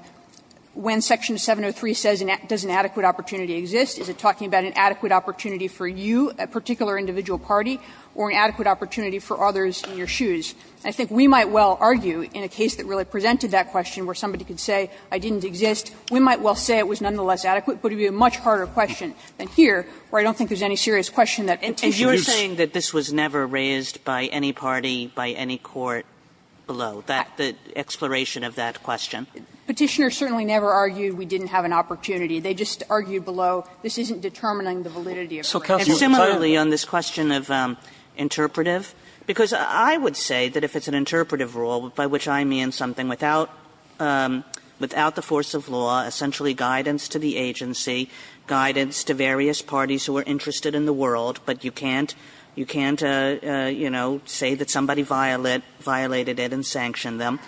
when section 703 says, does an adequate opportunity exist, is it talking about an adequate opportunity for you, a particular individual party, or an adequate opportunity for others in your shoes? I think we might well argue in a case that really presented that question where somebody could say I didn't exist, we might well say it was nonetheless adequate, but it would be a much harder question than here where I don't think there's any serious question that Petitioners used. Kagan. Kagan. And you are saying that this was never raised by any party, by any court below, that the exploration of that question? Petitioners certainly never argued we didn't have an opportunity. They just argued below, this isn't determining the validity of it. And similarly on this question of interpretive, because I would say that if it's an interpretive rule, by which I mean something without the force of law, essentially guidance to the agency, guidance to various parties who are interested in the world, but you can't, you know, say that somebody violated it and sanctioned them,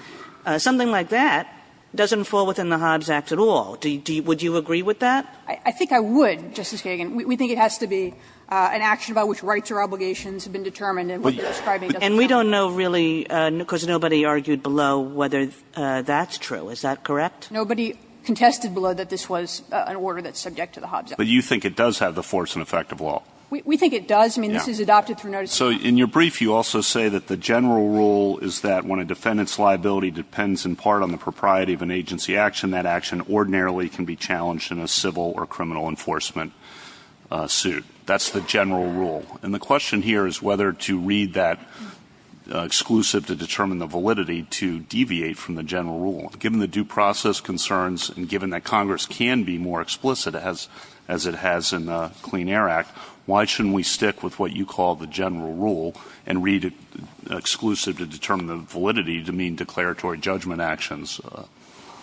something like that doesn't fall within the Hobbs Act at all. Would you agree with that? I think I would, Justice Kagan. We think it has to be an action by which rights or obligations have been determined and what you're describing doesn't matter. And we don't know really, because nobody argued below, whether that's true. Is that correct? Nobody contested below that this was an order that's subject to the Hobbs Act. But you think it does have the force and effect of law? We think it does. I mean, this is adopted through notice of the law. So in your brief you also say that the general rule is that when a defendant's liability depends in part on the propriety of an agency action, that action ordinarily can be challenged in a civil or criminal enforcement suit. That's the general rule. And the question here is whether to read that exclusive to determine the validity to deviate from the general rule. Given the due process concerns and given that Congress can be more explicit as it has in the Clean Air Act, why shouldn't we stick with what you call the general rule and read it exclusive to determine the validity to mean declaratory judgment actions?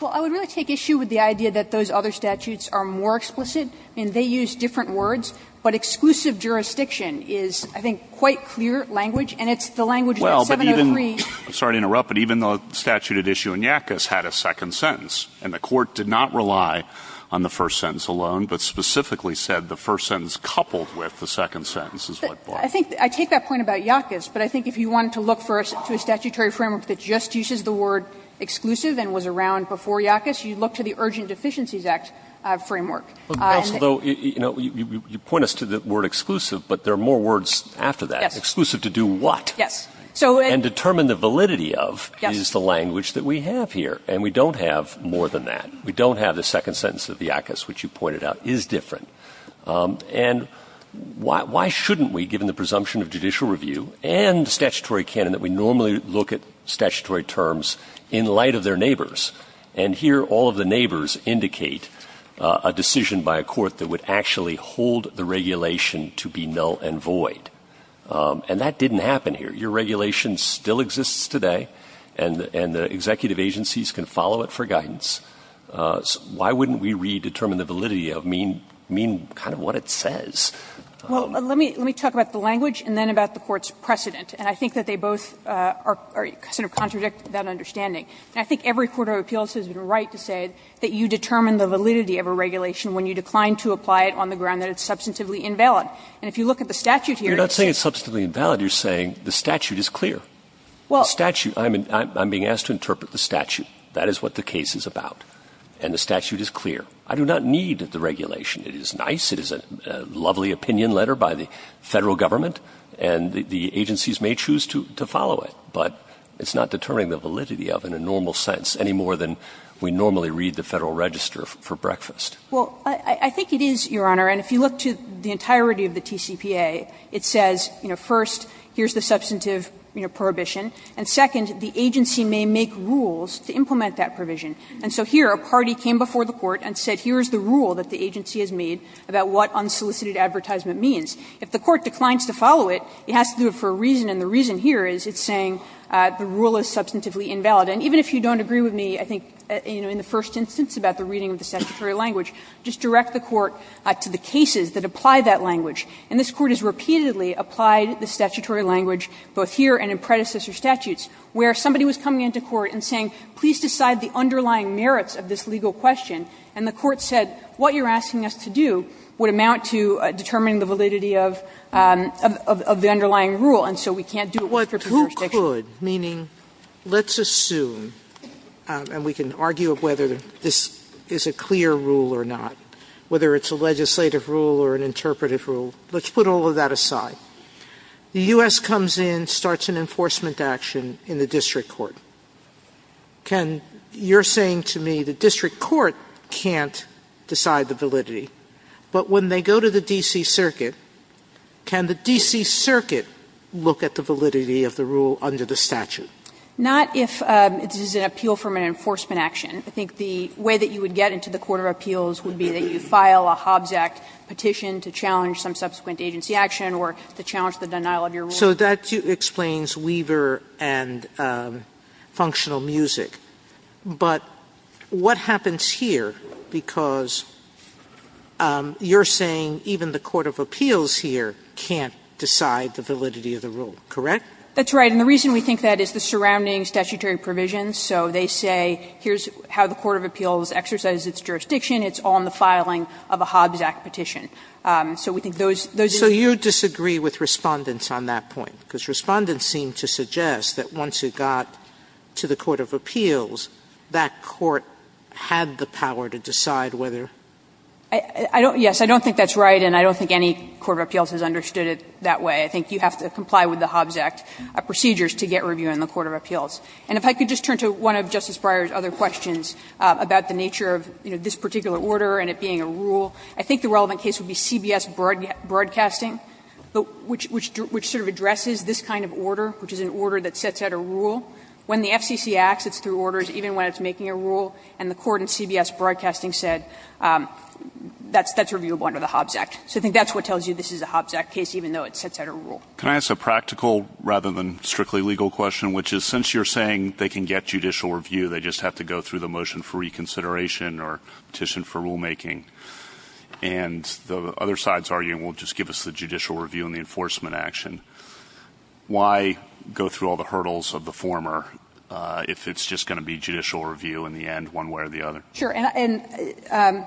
Well, I would really take issue with the idea that those other statutes are more explicit and they use different words, but exclusive jurisdiction is, I think, quite clear language, and it's the language that 703. Well, but even the statute at issue in Yackas had a second sentence, and the Court did not rely on the first sentence alone, but specifically said the first sentence coupled with the second sentence is what Barr. I think I take that point about Yackas, but I think if you wanted to look for a statutory framework that just uses the word exclusive and was around before Yackas, you'd look to the Urgent Deficiencies Act framework. But also, though, you know, you point us to the word exclusive, but there are more words after that. Yes. Exclusive to do what? Yes. And determine the validity of is the language that we have here, and we don't have more than that. We don't have the second sentence of Yackas, which you pointed out is different. And why shouldn't we, given the presumption of judicial review and statutory canon, that we normally look at statutory terms in light of their neighbors? And here, all of the neighbors indicate a decision by a court that would actually hold the regulation to be null and void. And that didn't happen here. Your regulation still exists today, and the executive agencies can follow it for guidance. Why wouldn't we redetermine the validity of mean kind of what it says? Well, let me talk about the language and then about the Court's precedent. And I think that they both are sort of contradict that understanding. And I think every court of appeals has a right to say that you determine the validity of a regulation when you decline to apply it on the ground that it's substantively invalid. And if you look at the statute here, it's the same. You're not saying it's substantively invalid. You're saying the statute is clear. Well, the statute, I mean, I'm being asked to interpret the statute. That is what the case is about. And the statute is clear. I do not need the regulation. It is nice. It is a lovely opinion letter by the Federal Government, and the agencies want it. And the courts may choose to follow it, but it's not determining the validity of it in a normal sense, any more than we normally read the Federal Register for breakfast. Well, I think it is, Your Honor, and if you look to the entirety of the TCPA, it says, you know, first, here's the substantive, you know, prohibition, and second, the agency may make rules to implement that provision. And so here, a party came before the Court and said, here's the rule that the agency has made about what unsolicited advertisement means. If the Court declines to follow it, it has to do it for a reason, and the reason here is it's saying the rule is substantively invalid. And even if you don't agree with me, I think, you know, in the first instance about the reading of the statutory language, just direct the Court to the cases that apply that language. And this Court has repeatedly applied the statutory language, both here and in predecessor statutes, where somebody was coming into court and saying, please decide the underlying merits of this legal question, and the Court said, what you're asking us to do would be to decide the validity of the underlying rule, and so we can't do it for preservation. Sotomayor, meaning let's assume, and we can argue whether this is a clear rule or not, whether it's a legislative rule or an interpretive rule, let's put all of that aside. The U.S. comes in, starts an enforcement action in the district court. Can you're saying to me the district court can't decide the validity, but when they go to the D.C. Circuit, can the D.C. Circuit look at the validity of the rule under the statute? Not if it is an appeal from an enforcement action. I think the way that you would get into the court of appeals would be that you file a Hobbs Act petition to challenge some subsequent agency action or to challenge the denial of your rule. So that explains Weaver and functional music. But what happens here, because you're saying even the court of appeals here can't decide the validity of the rule, correct? That's right. And the reason we think that is the surrounding statutory provisions. So they say here's how the court of appeals exercises its jurisdiction. It's on the filing of a Hobbs Act petition. So we think those are the reasons. So you disagree with Respondents on that point, because Respondents seem to suggest that once it got to the court of appeals, that court had the power to decide whether to do that. Yes, I don't think that's right, and I don't think any court of appeals has understood it that way. I think you have to comply with the Hobbs Act procedures to get review in the court of appeals. And if I could just turn to one of Justice Breyer's other questions about the nature of, you know, this particular order and it being a rule, I think the relevant case would be CBS Broadcasting, which sort of addresses this kind of order, which is an order that sets out a rule. When the FCC acts, it's through orders, even when it's making a rule. And the court in CBS Broadcasting said that's reviewable under the Hobbs Act. So I think that's what tells you this is a Hobbs Act case, even though it sets out a rule. Can I ask a practical, rather than strictly legal question, which is since you're saying they can get judicial review, they just have to go through the motion for reconsideration or petition for rulemaking, and the other side's argument will just give us the judicial review and the enforcement action. Why go through all the hurdles of the former if it's just going to be judicial review in the end one way or the other?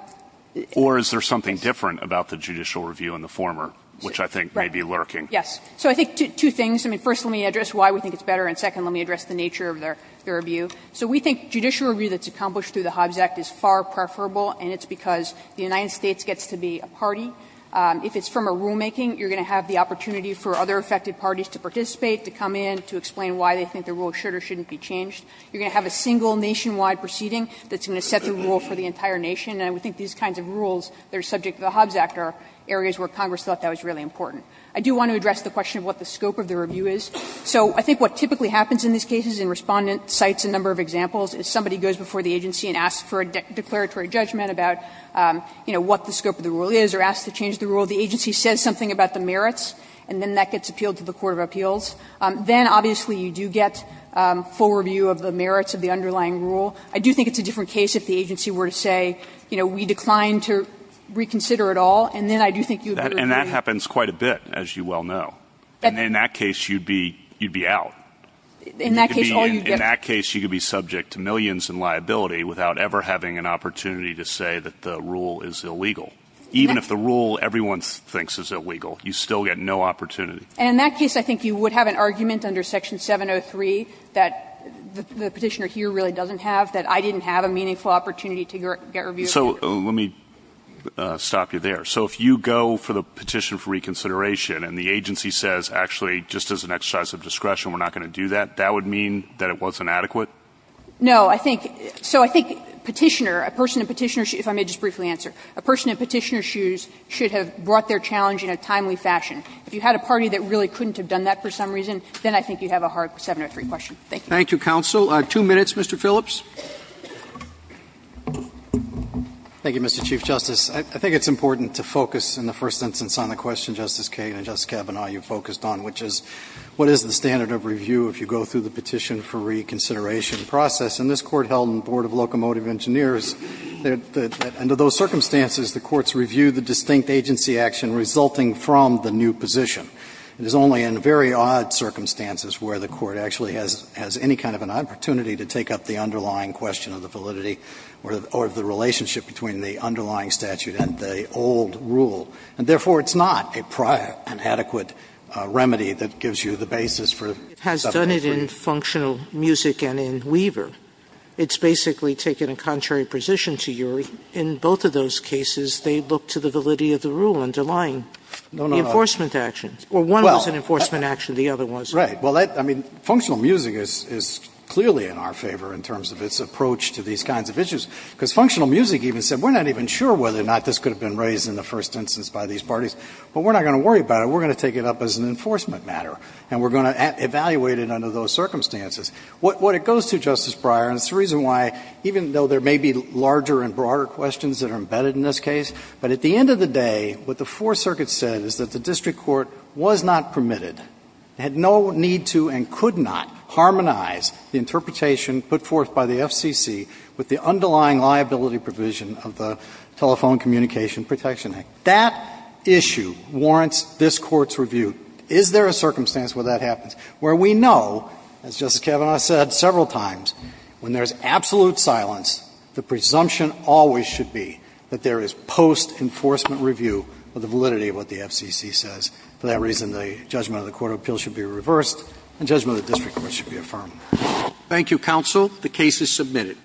Or is there something different about the judicial review in the former, which I think may be lurking? Yes. So I think two things. I mean, first, let me address why we think it's better, and second, let me address the nature of their review. So we think judicial review that's accomplished through the Hobbs Act is far preferable, and it's because the United States gets to be a party. If it's from a rulemaking, you're going to have the opportunity for other affected parties to participate, to come in, to explain why they think the rule should or shouldn't be changed. You're going to have a single nationwide proceeding that's going to set the rule for the entire nation. And I think these kinds of rules that are subject to the Hobbs Act are areas where Congress thought that was really important. I do want to address the question of what the scope of the review is. So I think what typically happens in these cases, and Respondent cites a number of examples, is somebody goes before the agency and asks for a declaratory judgment about, you know, what the scope of the rule is, or asks to change the rule. The agency says something about the merits, and then that gets appealed to the court of appeals. Then, obviously, you do get full review of the merits of the underlying rule. I do think it's a different case if the agency were to say, you know, we declined to reconsider at all, and then I do think you would be reviewed. And that happens quite a bit, as you well know. And in that case, you'd be out. In that case, all you get is a little bit of an opportunity to change the rule. In that case, you could be subject to millions in liability without ever having an opportunity to say that the rule is illegal. Even if the rule everyone thinks is illegal, you still get no opportunity. And in that case, I think you would have an argument under Section 703 that the Petitioner here really doesn't have, that I didn't have a meaningful opportunity to get review of the rule. So let me stop you there. So if you go for the petition for reconsideration and the agency says, actually, just as an exercise of discretion, we're not going to do that, that would mean that it wasn't adequate? No, I think, so I think Petitioner, a person in Petitioner's shoes, if I may just briefly answer, a person in Petitioner's shoes should have brought their challenge in a timely fashion. If you had a party that really couldn't have done that for some reason, then I think you'd have a hard 703 question. Thank you. Thank you, counsel. Two minutes, Mr. Phillips. Thank you, Mr. Chief Justice. I think it's important to focus in the first instance on the question, Justice Kagan and Justice Kavanaugh, you focused on, which is what is the standard of review if you go through the petition for reconsideration process? And this Court held in the Board of Locomotive Engineers that under those circumstances, the courts review the distinct agency action resulting from the new position. It is only in very odd circumstances where the Court actually has any kind of an opportunity to take up the underlying question of the validity or of the relationship between the underlying statute and the old rule. And therefore, it's not a prior and adequate remedy that gives you the basis for. It has done it in Functional Music and in Weaver. It's basically taken a contrary position to yours. In both of those cases, they look to the validity of the rule underlying the enforcement action. Well, one was an enforcement action, the other wasn't. Right. Well, I mean, Functional Music is clearly in our favor in terms of its approach to these kinds of issues, because Functional Music even said, we're not even sure whether or not this could have been raised in the first instance by these parties, but we're not going to worry about it. We're going to take it up as an enforcement matter, and we're going to evaluate it under those circumstances. What it goes to, Justice Breyer, and it's the reason why, even though there may be larger and broader questions that are embedded in this case, but at the end of the day, what the Fourth Circuit said is that the district court was not permitted, had no need to and could not harmonize the interpretation put forth by the FCC with the underlying liability provision of the Telephone Communication Protection Act. That issue warrants this Court's review. Is there a circumstance where that happens, where we know, as Justice Kavanaugh said several times, when there's absolute silence, the presumption always should be that there is post-enforcement review of the validity of what the FCC says. For that reason, the judgment of the court of appeals should be reversed, and judgment of the district court should be affirmed. Thank you, counsel. The case is submitted.